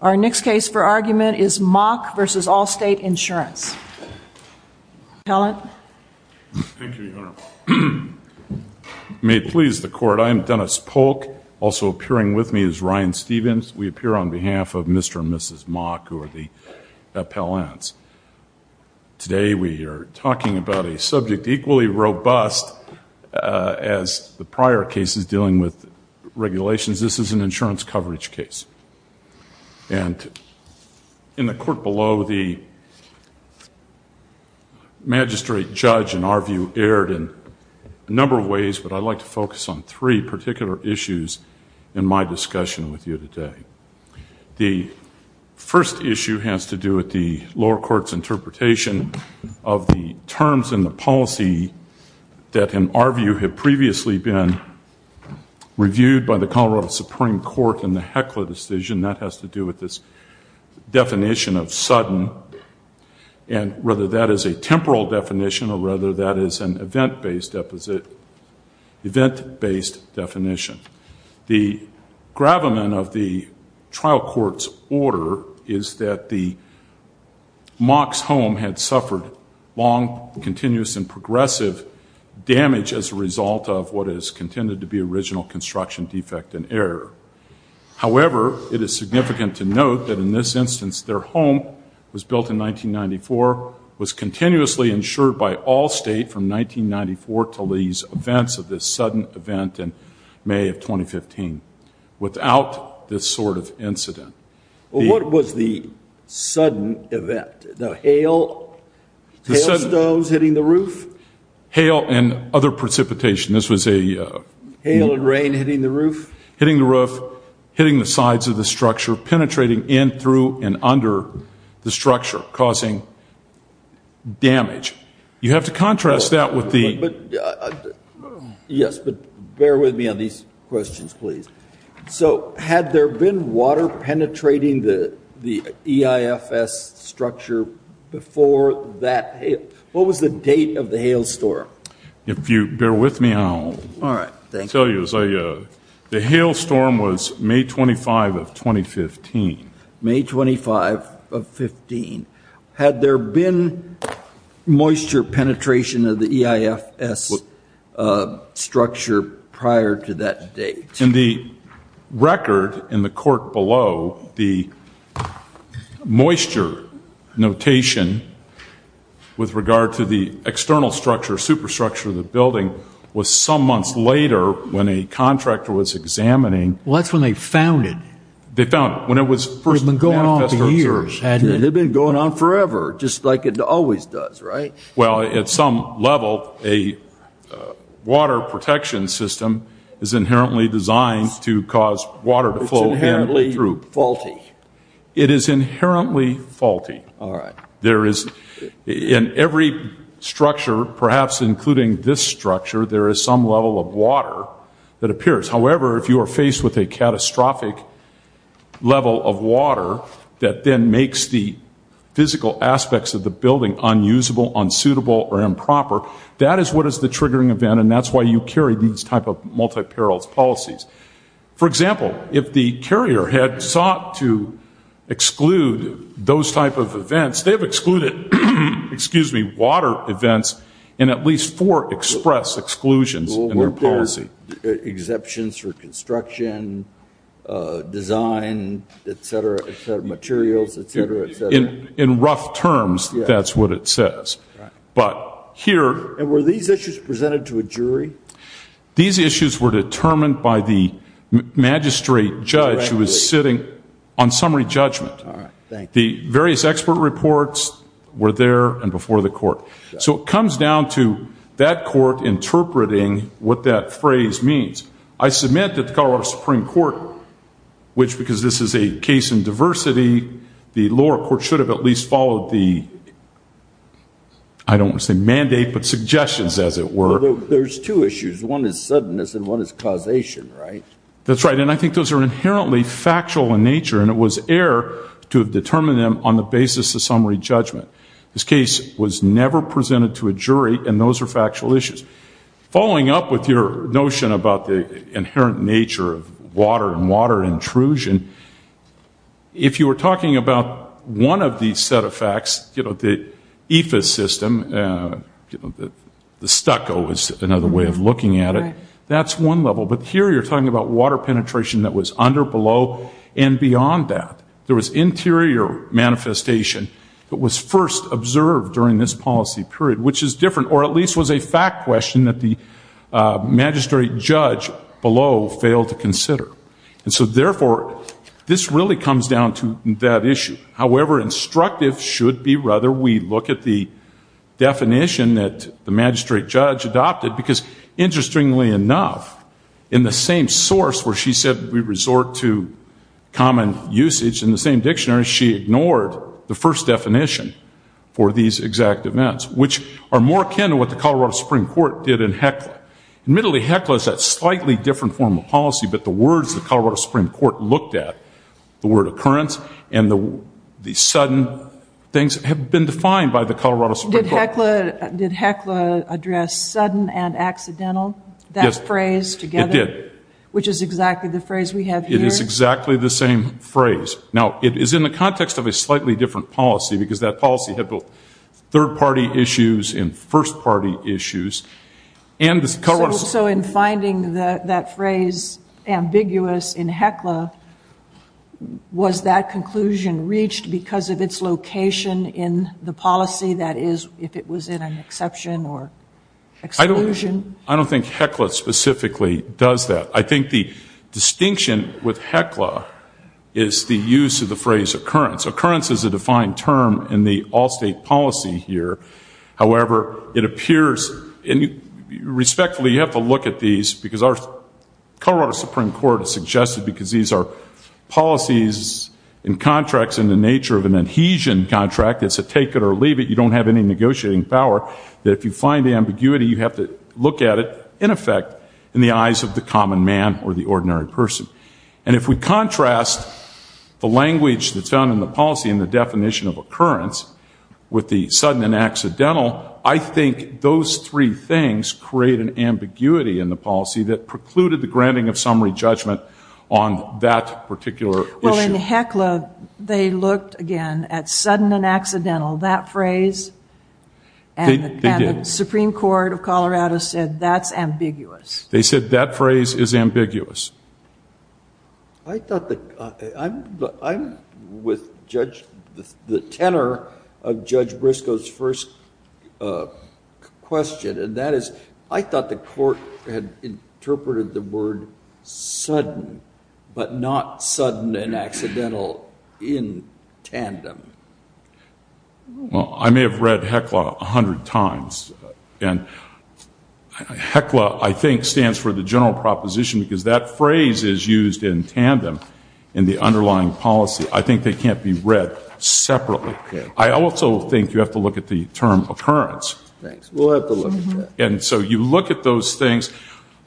Our next case for argument is Mock v. Allstate Insurance. Appellant. Thank you, Your Honor. May it please the Court, I am Dennis Polk. Also appearing with me is Ryan Stevens. We appear on behalf of Mr. and Mrs. Mock, who are the appellants. Today we are talking about a subject equally robust as the prior cases dealing with regulations. This is an insurance coverage case. And in the court below, the magistrate judge in our view erred in a number of ways, but I'd like to focus on three particular issues in my discussion with you today. The first issue has to do with the lower court's interpretation of the terms in the policy that in our view had previously been reviewed by the Colorado Supreme Court in the Heckler decision. That has to do with this definition of sudden, and whether that is a temporal definition or whether that is an event-based definition. The gravamen of the trial court's order is that the Mock's home had suffered long, continuous, and progressive damage as a result of what has contended to be original construction defect and error. However, it is significant to note that in this instance their home was built in 1994, was continuously insured by Allstate from 1994 until these events of this sudden event in May of 2015. Without this sort of incident... Well, what was the sudden event? The hail, hail stones hitting the roof? Hail and other precipitation. This was a... Hail and rain hitting the roof? Hitting the roof, hitting the sides of the structure, penetrating in through and under the structure, causing damage. You have to contrast that with the... Yes, but bear with me on these questions, please. So had there been water penetrating the EIFS structure before that? What was the date of the hail storm? If you bear with me, I'll tell you. The hail storm was May 25 of 2015. May 25 of 15. Had there been moisture penetration of the EIFS structure prior to that date? In the record in the court below, the moisture notation with regard to the external structure, superstructure of the building, was some months later when a contractor was examining... Well, that's when they found it. They found it when it was first... It had been going on forever, just like it always does, right? Well, at some level, a water protection system is inherently designed to cause water to flow in through. It's inherently faulty. It is inherently faulty. All right. There is, in every structure, perhaps including this structure, there is some level of water that appears. However, if you are faced with a catastrophic level of water that then makes the physical aspects of the building unusable, unsuitable, or improper, that is what is the triggering event, and that's why you carry these type of multi-perils policies. For example, if the carrier had sought to exclude those type of events, they have excluded water events in at least four express exclusions in their policy. Well, weren't there exceptions for construction, design, et cetera, et cetera, materials, et cetera, et cetera? In rough terms, that's what it says. Right. But here... And were these issues presented to a jury? These issues were determined by the magistrate judge who was sitting on summary judgment. All right. The various expert reports were there and before the court. So it comes down to that court interpreting what that phrase means. I submit that the Colorado Supreme Court, which, because this is a case in diversity, the lower court should have at least followed the, I don't want to say mandate, but suggestions, as it were. There's two issues. One is suddenness and one is causation, right? That's right. And I think those are inherently factual in nature and it was error to have determined them on the basis of summary judgment. This case was never presented to a jury and those are factual issues. Following up with your notion about the inherent nature of water and water intrusion, if you were talking about one of these set of facts, you know, the IFAS system, the stucco is another way of looking at it, that's one level. But here you're talking about water penetration that was under, below, and beyond that. There was interior manifestation that was first observed during this policy period, which is different or at least was a fact question that the magistrate judge below failed to consider. And so, therefore, this really comes down to that issue. However, instructive should be rather we look at the definition that the magistrate judge adopted because, interestingly enough, in the same source where she said we resort to common usage, in the same dictionary she ignored the first definition for these exact events, which are more akin to what the Colorado Supreme Court did in Heckler. Admittedly, Heckler is that slightly different form of policy, but the words the Colorado Supreme Court looked at, the word occurrence, and the sudden things have been defined by the Colorado Supreme Court. Did Heckler address sudden and accidental? Yes. That phrase together? It did. Which is exactly the phrase we have here. It is exactly the same phrase. Now, it is in the context of a slightly different policy because that policy had both third-party issues and first-party issues. So in finding that phrase ambiguous in Heckler, was that conclusion reached because of its location in the policy, that is, if it was in an exception or exclusion? I don't think Heckler specifically does that. I think the distinction with Heckler is the use of the phrase occurrence. Occurrence is a defined term in the all-state policy here. However, it appears, and respectfully, you have to look at these, because our Colorado Supreme Court has suggested, because these are policies and contracts in the nature of an adhesion contract, it's a take-it-or-leave-it, you don't have any negotiating power, that if you find ambiguity, you have to look at it, in effect, in the eyes of the common man or the ordinary person. And if we contrast the language that's found in the policy and the definition of occurrence with the sudden and accidental, I think those three things create an ambiguity in the policy that precluded the granting of summary judgment on that particular issue. Well, in Heckler, they looked, again, at sudden and accidental, that phrase. They did. And the Supreme Court of Colorado said that's ambiguous. They said that phrase is ambiguous. I'm with the tenor of Judge Briscoe's first question, and that is I thought the court had interpreted the word sudden, but not sudden and accidental in tandem. Well, I may have read Heckler a hundred times, and Heckler, I think, stands for the general proposition because that phrase is used in tandem in the underlying policy. I think they can't be read separately. I also think you have to look at the term occurrence. Thanks. We'll have to look at that. And so you look at those things.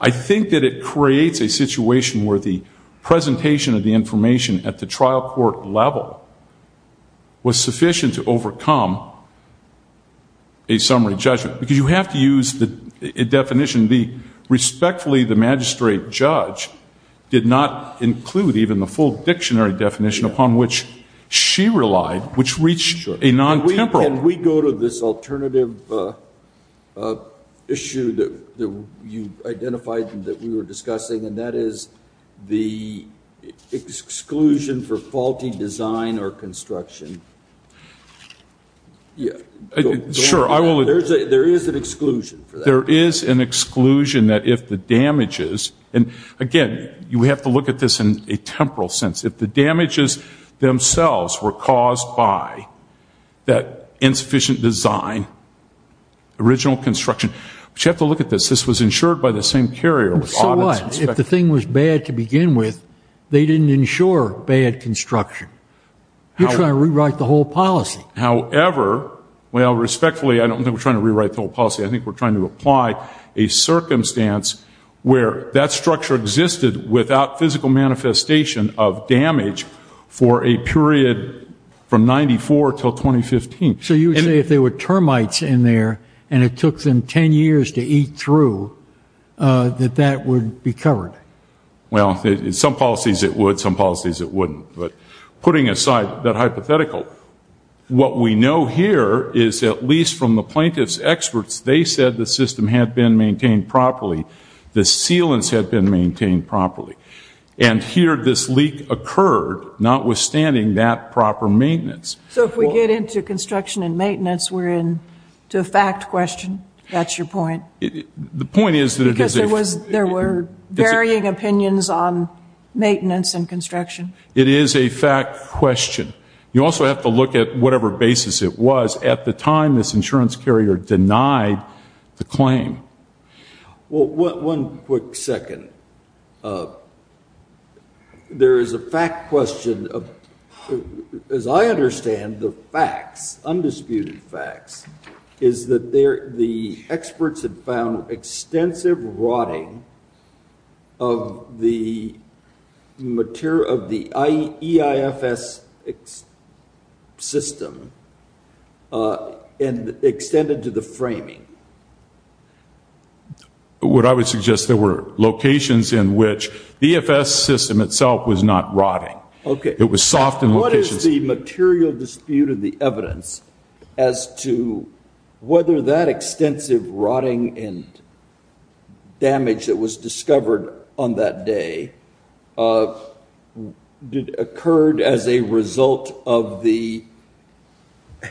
I think that it creates a situation where the presentation of the information at the trial court level was sufficient to overcome a summary judgment because you have to use the definition. Respectfully, the magistrate judge did not include even the full dictionary definition upon which she relied, which reached a non-temporal. Can we go to this alternative issue that you identified and that we were discussing, and that is the exclusion for faulty design or construction? Sure. There is an exclusion for that. There is an exclusion that if the damages, and, again, we have to look at this in a temporal sense. If the damages themselves were caused by that insufficient design, original construction, but you have to look at this. This was insured by the same carrier. So what? If the thing was bad to begin with, they didn't insure bad construction. You're trying to rewrite the whole policy. However, well, respectfully, I don't think we're trying to rewrite the whole policy. I think we're trying to apply a circumstance where that structure existed without physical manifestation of damage for a period from 1994 until 2015. So you would say if there were termites in there and it took them 10 years to eat through, that that would be covered? Well, in some policies it would, in some policies it wouldn't. But putting aside that hypothetical, what we know here is at least from the plaintiff's experts, they said the system had been maintained properly. The sealants had been maintained properly. And here this leak occurred, notwithstanding that proper maintenance. So if we get into construction and maintenance, we're into a fact question? That's your point? The point is that it is a fact. Because there were varying opinions on maintenance and construction. It is a fact question. You also have to look at whatever basis it was at the time this insurance carrier denied the claim. Well, one quick second. There is a fact question. As I understand the facts, undisputed facts, is that the experts had found extensive rotting of the material, of the EIFS system and extended to the framing. What I would suggest, there were locations in which the EIFS system itself was not rotting. It was soft in locations. What is the material dispute of the evidence as to whether that extensive rotting and damage that was discovered on that day occurred as a result of the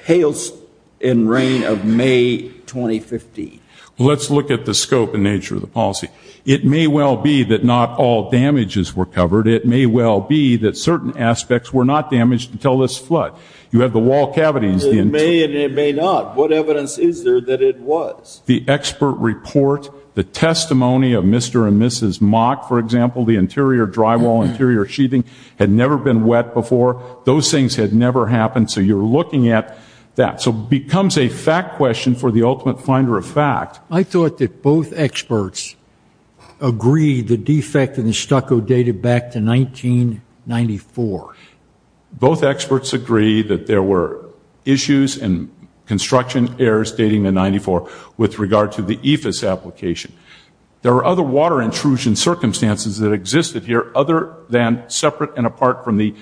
hails and rain of May 2015? Let's look at the scope and nature of the policy. It may well be that not all damages were covered. It may well be that certain aspects were not damaged until this flood. You have the wall cavities. It may and it may not. What evidence is there that it was? The expert report, the testimony of Mr. and Mrs. Mock, for example, the interior drywall, interior sheathing had never been wet before. Those things had never happened. So you're looking at that. So it becomes a fact question for the ultimate finder of fact. I thought that both experts agreed the defect in the stucco dated back to 1994. Both experts agreed that there were issues and construction errors dating to 1994 with regard to the EIFS application. There are other water intrusion circumstances that existed here other than separate and apart from the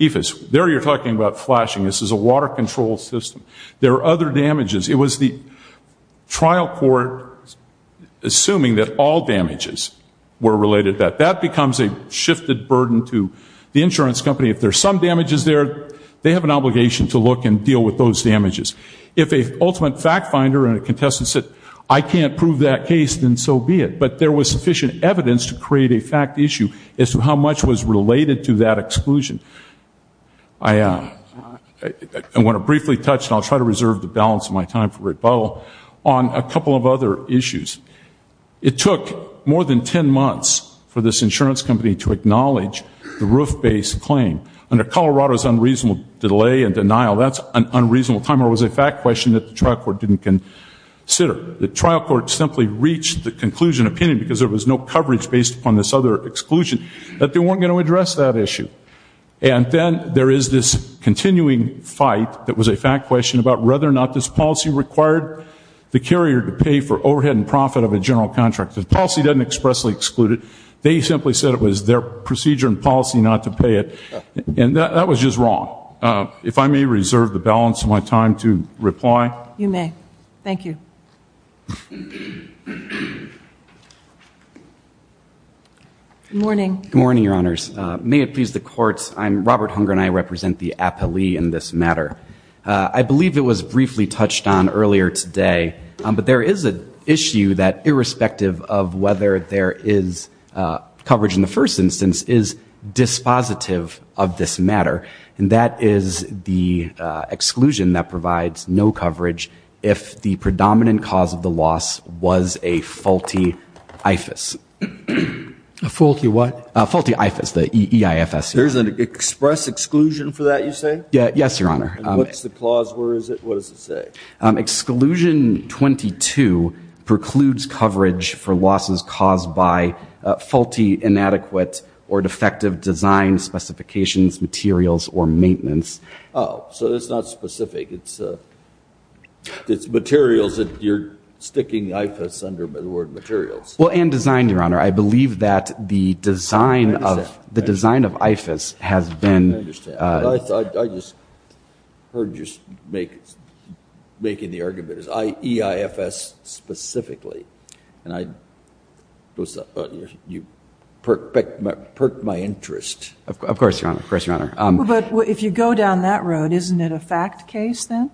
EIFS. There you're talking about flashing. This is a water control system. There are other damages. It was the trial court assuming that all damages were related to that. That becomes a shifted burden to the insurance company. If there's some damages there, they have an obligation to look and deal with those damages. If a ultimate fact finder and a contestant said, I can't prove that case, then so be it. But there was sufficient evidence to create a fact issue as to how much was related to that exclusion. I want to briefly touch, and I'll try to reserve the balance of my time for rebuttal, on a couple of other issues. It took more than ten months for this insurance company to acknowledge the roof-based claim. Under Colorado's unreasonable delay and denial, that's an unreasonable time or it was a fact question that the trial court didn't consider. The trial court simply reached the conclusion opinion, because there was no coverage based upon this other exclusion, that they weren't going to address that issue. And then there is this continuing fight that was a fact question about whether or not this policy required the carrier to pay for overhead and profit of a general contract. The policy doesn't expressly exclude it. They simply said it was their procedure and policy not to pay it. And that was just wrong. If I may reserve the balance of my time to reply. You may. Thank you. Good morning. Good morning, Your Honors. May it please the courts, I'm Robert Hunger and I represent the appellee in this matter. I believe it was briefly touched on earlier today, but there is an issue that irrespective of whether there is coverage in the first instance, is dispositive of this matter. And that is the exclusion that provides no coverage if the predominant cause of the loss was a faulty IFAS. A faulty what? A faulty IFAS, the E-I-F-S. There's an express exclusion for that, you say? Yes, Your Honor. What's the clause? Where is it? What does it say? Exclusion 22 precludes coverage for losses caused by faulty, inadequate, or defective design specifications, materials, or maintenance. Oh, so it's not specific. It's materials that you're sticking IFAS under the word materials. Well, and design, Your Honor. I believe that the design of IFAS has been. I understand. I just heard you making the argument. It's E-I-F-S specifically. And you perked my interest. Of course, Your Honor. Of course, Your Honor. But if you go down that road, isn't it a fact case then?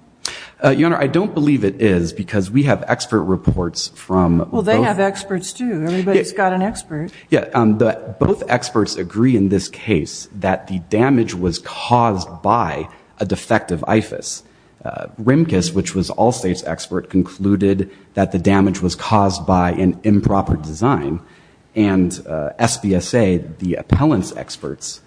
Your Honor, I don't believe it is because we have expert reports from both. Well, they have experts, too. Everybody's got an expert. Both experts agree in this case that the damage was caused by a defective IFAS. RIMCAS, which was Allstate's expert, concluded that the damage was caused by an improper design. And SBSA, the appellant's expert,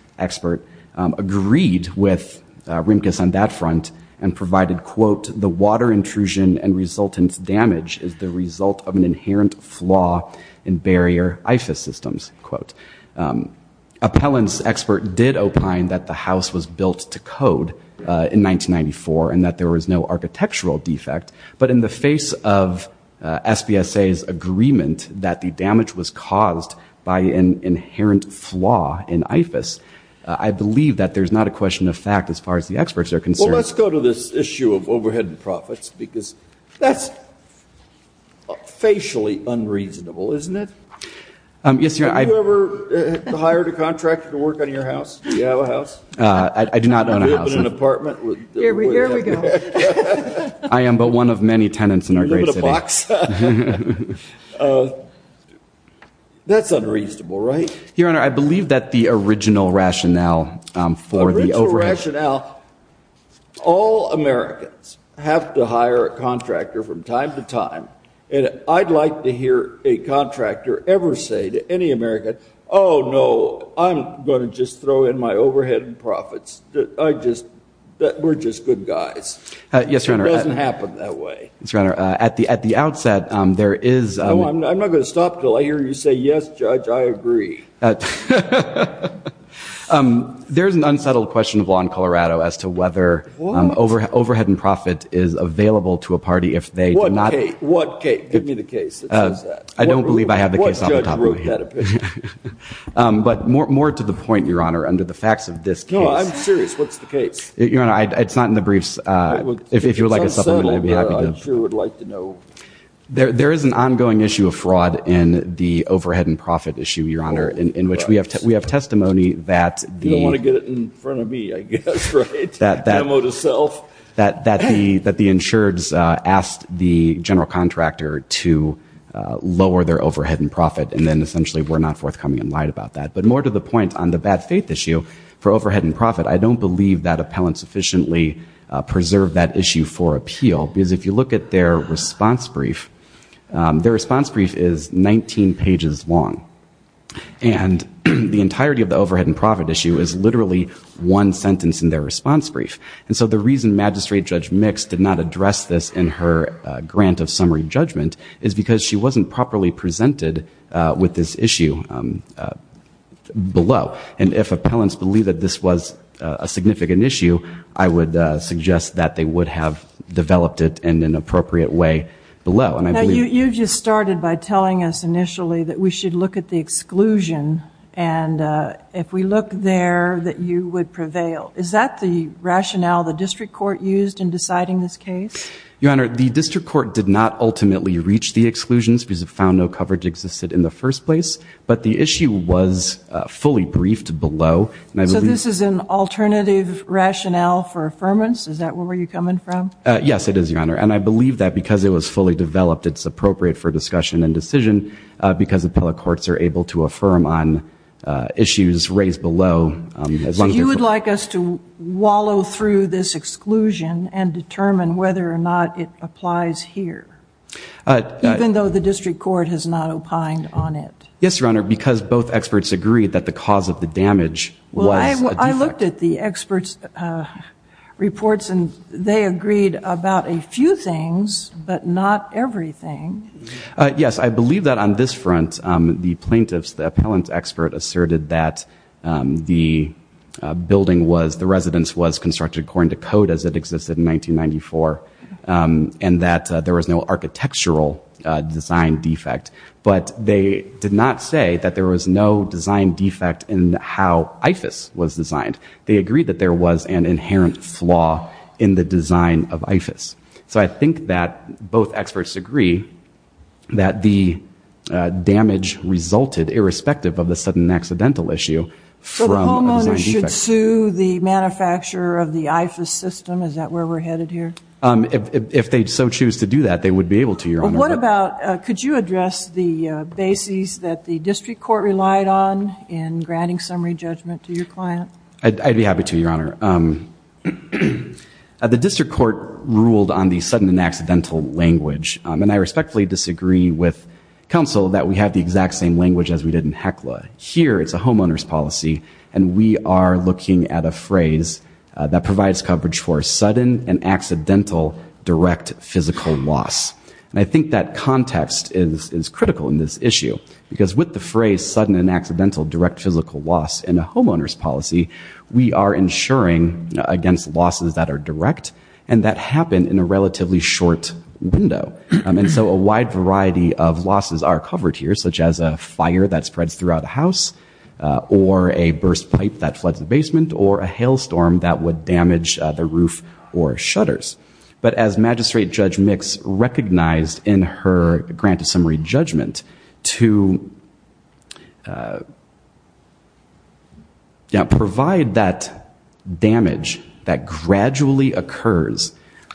agreed with RIMCAS on that front and provided, quote, the water intrusion and resultant damage is the result of an inherent flaw in barrier IFAS systems, quote. Appellant's expert did opine that the house was built to code in 1994 and that there was no architectural defect. But in the face of SBSA's agreement that the damage was caused by an inherent flaw in IFAS, I believe that there's not a question of fact as far as the experts are concerned. Well, let's go to this issue of overhead and profits because that's facially unreasonable, isn't it? Yes, Your Honor. Have you ever hired a contractor to work on your house? Do you have a house? I do not own a house. Do you live in an apartment? Here we go. I am but one of many tenants in our great city. That's unreasonable, right? Your Honor, I believe that the original rationale for the overhead The original rationale, all Americans have to hire a contractor from time to time. And I'd like to hear a contractor ever say to any American, oh, no, I'm going to just throw in my overhead and profits. We're just good guys. Yes, Your Honor. It doesn't happen that way. Yes, Your Honor. At the outset, there is I'm not going to stop until I hear you say yes, Judge, I agree. There's an unsettled question of law in Colorado as to whether overhead and profit is available to a party if they do not What case? Give me the case that says that. I don't believe I have the case on the top of my head. What judge wrote that opinion? But more to the point, Your Honor, under the facts of this case No, I'm serious. What's the case? Your Honor, it's not in the briefs. If you would like a supplement, I'd be happy to It's unsettling, but I sure would like to know. There is an ongoing issue of fraud in the overhead and profit issue, Your Honor, in which we have testimony that the You don't want to get it in front of me, I guess, right? Demo to self. That the insureds asked the general contractor to lower their overhead and profit and then essentially were not forthcoming and lied about that. But more to the point, on the bad faith issue for overhead and profit, I don't believe that appellant sufficiently preserved that issue for appeal because if you look at their response brief, their response brief is 19 pages long and the entirety of the overhead and profit issue is literally one sentence in their response brief. And so the reason Magistrate Judge Mix did not address this in her grant of summary judgment is because she wasn't properly presented with this issue below. And if appellants believe that this was a significant issue, I would suggest that they would have developed it in an appropriate way below. Now, you just started by telling us initially that we should look at the exclusion and if we look there, that you would prevail. Is that the rationale the district court used in deciding this case? Your Honor, the district court did not ultimately reach the exclusions because it found no coverage existed in the first place. But the issue was fully briefed below. So this is an alternative rationale for affirmance? Is that where you're coming from? Yes, it is, Your Honor. And I believe that because it was fully developed, it's appropriate for discussion and decision because appellate courts are able to affirm on issues raised below. So you would like us to wallow through this exclusion and determine whether or not it applies here, even though the district court has not opined on it? Yes, Your Honor, because both experts agree that the cause of the damage was a defect. Well, I looked at the experts' reports and they agreed about a few things, but not everything. Yes, I believe that on this front, the plaintiffs, the appellant expert asserted that the building was, the residence was constructed according to code as it existed in 1994 and that there was no architectural design defect. But they did not say that there was no design defect in how IFAS was designed. They agreed that there was an inherent flaw in the design of IFAS. So I think that both experts agree that the damage resulted, irrespective of the sudden accidental issue, from a design defect. So the homeowner should sue the manufacturer of the IFAS system? Is that where we're headed here? If they so choose to do that, they would be able to, Your Honor. But what about, could you address the bases that the district court relied on in granting summary judgment to your client? I'd be happy to, Your Honor. The district court ruled on the sudden and accidental language, and I respectfully disagree with counsel that we have the exact same language as we did in HECLA. Here, it's a homeowner's policy, and we are looking at a phrase that provides coverage for sudden and accidental direct physical loss. And I think that context is critical in this issue, because with the phrase sudden and accidental direct physical loss in a homeowner's policy, we are insuring against losses that are direct and that happen in a relatively short window. And so a wide variety of losses are covered here, such as a fire that spreads throughout the house, or a burst pipe that floods the basement, or a hailstorm that would damage the roof or shutters. But as Magistrate Judge Mix recognized in her grant of summary judgment, to provide that damage that gradually occurs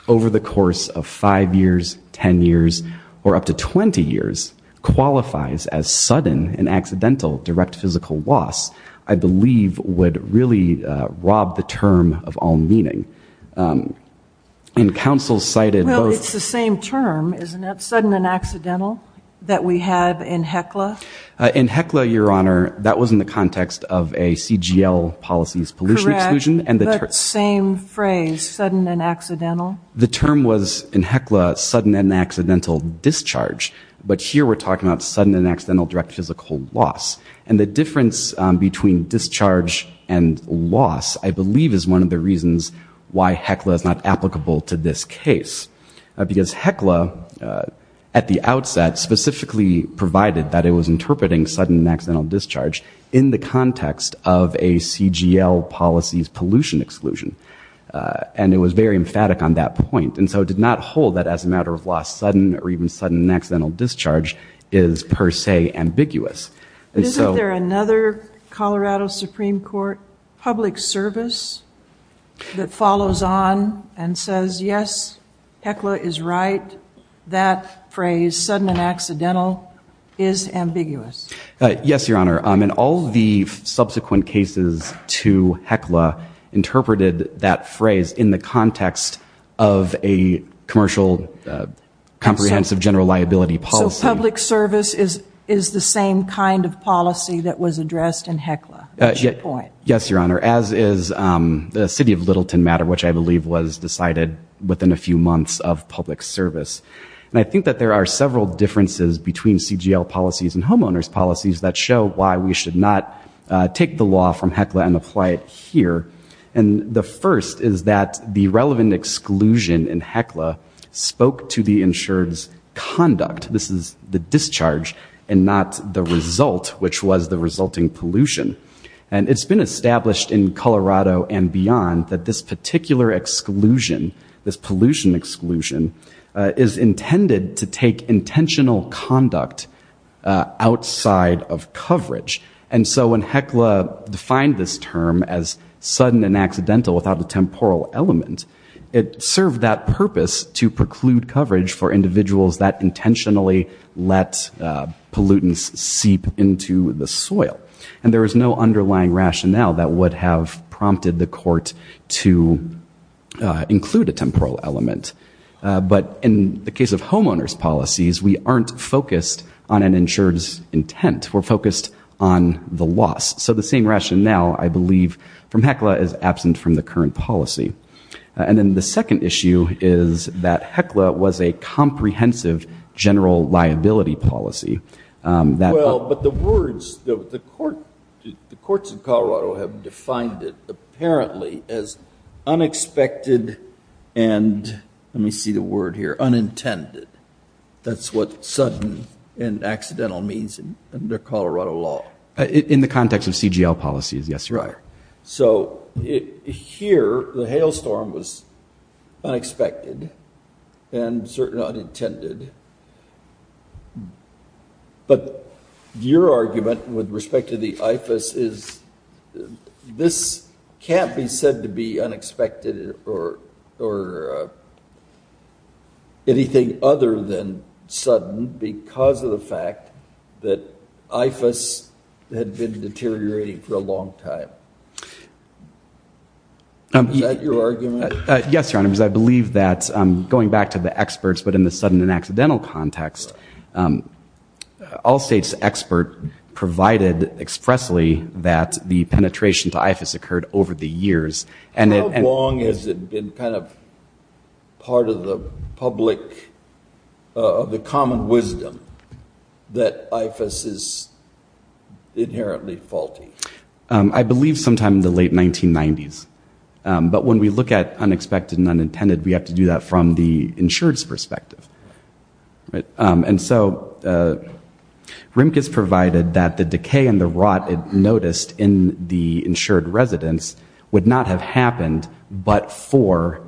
over the course of five years, ten years, or up to 20 years, qualifies as sudden and accidental direct physical loss, I believe would really rob the term of all meaning. And counsel cited both- Well, it's the same term, isn't it? Sudden and accidental that we had in HECLA? In HECLA, Your Honor, that was in the context of a CGL policy's pollution exclusion. Correct, but same phrase, sudden and accidental. The term was in HECLA sudden and accidental discharge, but here we're talking about sudden and accidental direct physical loss. And the difference between discharge and loss, I believe, is one of the reasons why HECLA is not applicable to this case. Because HECLA, at the outset, specifically provided that it was interpreting sudden and accidental discharge in the context of a CGL policy's pollution exclusion. And it was very emphatic on that point. And so it did not hold that as a matter of loss, sudden or even sudden and accidental discharge is per se ambiguous. Isn't there another Colorado Supreme Court public service that follows on and says, yes, HECLA is right, that phrase, sudden and accidental, is ambiguous? Yes, Your Honor. And all the subsequent cases to HECLA interpreted that phrase in the context of a commercial comprehensive general liability policy. So public service is the same kind of policy that was addressed in HECLA at that point? Yes, Your Honor, as is the city of Littleton matter, which I believe was decided within a few months of public service. And I think that there are several differences between CGL policies and homeowners policies that show why we should not take the law from HECLA and apply it here. And the first is that the relevant exclusion in HECLA spoke to the insured's conduct. This is the discharge and not the result, which was the resulting pollution. And it's been established in Colorado and beyond that this particular exclusion, this pollution exclusion, is intended to take intentional conduct outside of coverage. And so when HECLA defined this term as sudden and accidental without a temporal element, it served that purpose to preclude coverage for individuals that intentionally let pollutants seep into the soil. And there is no underlying rationale that would have prompted the court to include a temporal element. But in the case of homeowners policies, we aren't focused on an insured's intent. We're focused on the loss. So the same rationale, I believe, from HECLA is absent from the current policy. And then the second issue is that HECLA was a comprehensive general liability policy. Well, but the words, the courts in Colorado have defined it apparently as unexpected and, let me see the word here, unintended. That's what sudden and accidental means under Colorado law. In the context of CGL policies, yes, you're right. So here, the hailstorm was unexpected and certainly unintended. But your argument with respect to the IFAS is this can't be said to be unexpected or anything other than sudden because of the fact that IFAS had been deteriorating for a long time. Is that your argument? Yes, Your Honor, because I believe that going back to the experts, but in the sudden and accidental context, Allstate's expert provided expressly that the penetration to IFAS occurred over the years. How long has it been kind of part of the public, of the common wisdom that IFAS is inherently faulty? I believe sometime in the late 1990s. But when we look at unexpected and unintended, we have to do that from the insured's perspective. And so Rimkus provided that the decay and the rot it noticed in the insured residents would not have happened, but for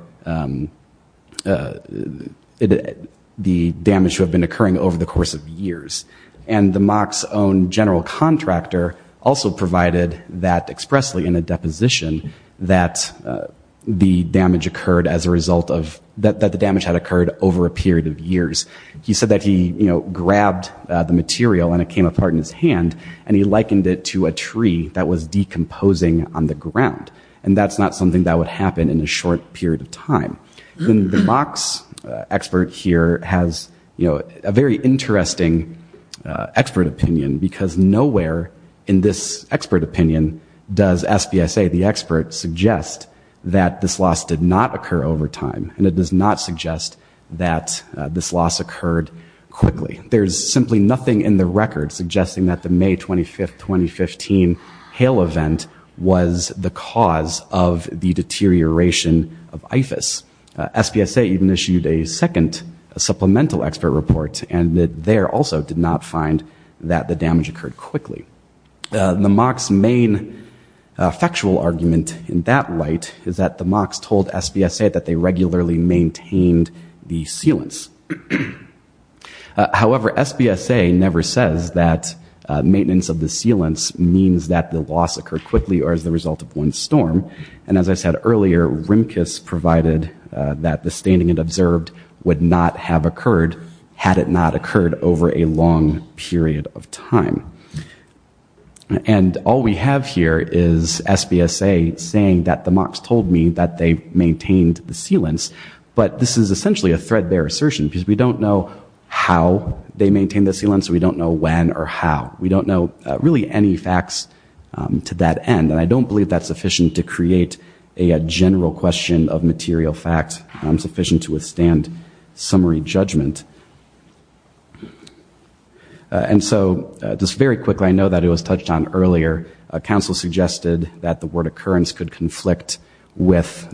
the damage that had been occurring over the course of years. And the mock's own general contractor also provided that expressly in a deposition that the damage occurred as a result of, that the damage had occurred over a period of years. He said that he grabbed the material and it came apart in his hand and he likened it to a tree that was decomposing on the ground. And that's not something that would happen in a short period of time. The mock's expert here has a very interesting expert opinion, because nowhere in this expert opinion does SPSA, the expert, suggest that this loss did not occur over time and it does not suggest that this loss occurred quickly. There's simply nothing in the record suggesting that the May 25th, 2015 hail event was the cause of the deterioration of IFAS. SPSA even issued a second supplemental expert report and there also did not find that the damage occurred quickly. The mock's main factual argument in that light is that the mock's told SPSA that they regularly maintained the sealants. However, SPSA never says that maintenance of the sealants means that the loss occurred quickly or as a result of one storm. And as I said earlier, Rimkus provided that the staining it observed would not have occurred had it not occurred over a long period of time. And all we have here is SPSA saying that the mock's told me that they maintained the sealants, but this is essentially a threadbare assertion, because we don't know how they maintained the sealants, we don't know when or how. We don't know really any facts to that end. And I don't believe that's sufficient to create a general question of material fact. It's sufficient to withstand summary judgment. And so just very quickly, I know that it was touched on earlier. Council suggested that the word occurrence could conflict with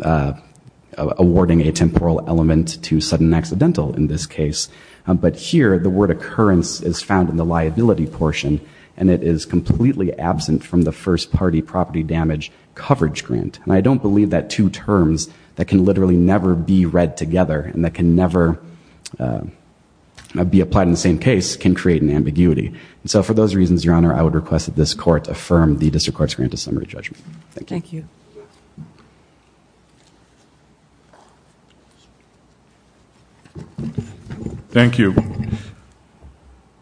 awarding a temporal element to sudden accidental in this case. But here, the word occurrence is found in the liability portion, and it is completely absent from the first party property damage coverage grant. And I don't believe that two terms that can literally never be read together and that can never be applied in the same case can create an ambiguity. And so for those reasons, Your Honor, I would request that this court affirm the district court's grant of summary judgment. Thank you.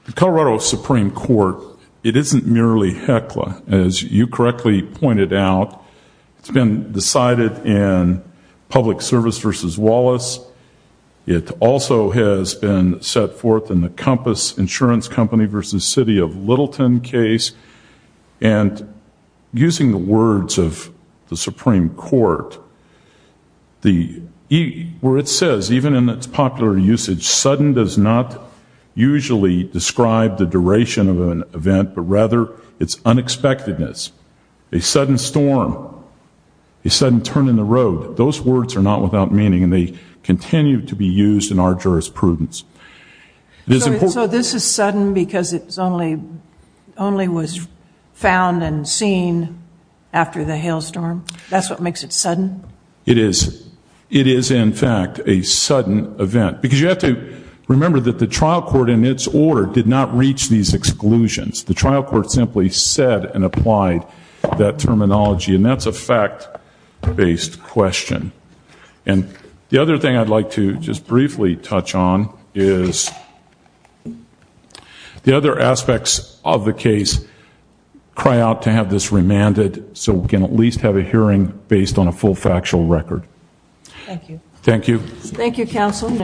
The Colorado Supreme Court, it isn't merely HECLA, as you correctly pointed out. It's been decided in Public Service v. Wallace. It also has been set forth in the Compass Insurance Company v. City of Littleton case. And using the words of the Supreme Court, where it says, even in its popular usage, sudden does not usually describe the duration of an event, but rather its unexpectedness. A sudden storm, a sudden turn in the road. Those words are not without meaning, and they continue to be used in our jurisprudence. So this is sudden because it only was found and seen after the hailstorm? That's what makes it sudden? It is. It is, in fact, a sudden event. Because you have to remember that the trial court in its order did not reach these exclusions. The trial court simply said and applied that terminology. And that's a fact-based question. And the other thing I'd like to just briefly touch on is the other aspects of the case cry out to have this remanded so we can at least have a hearing based on a full factual record. Thank you.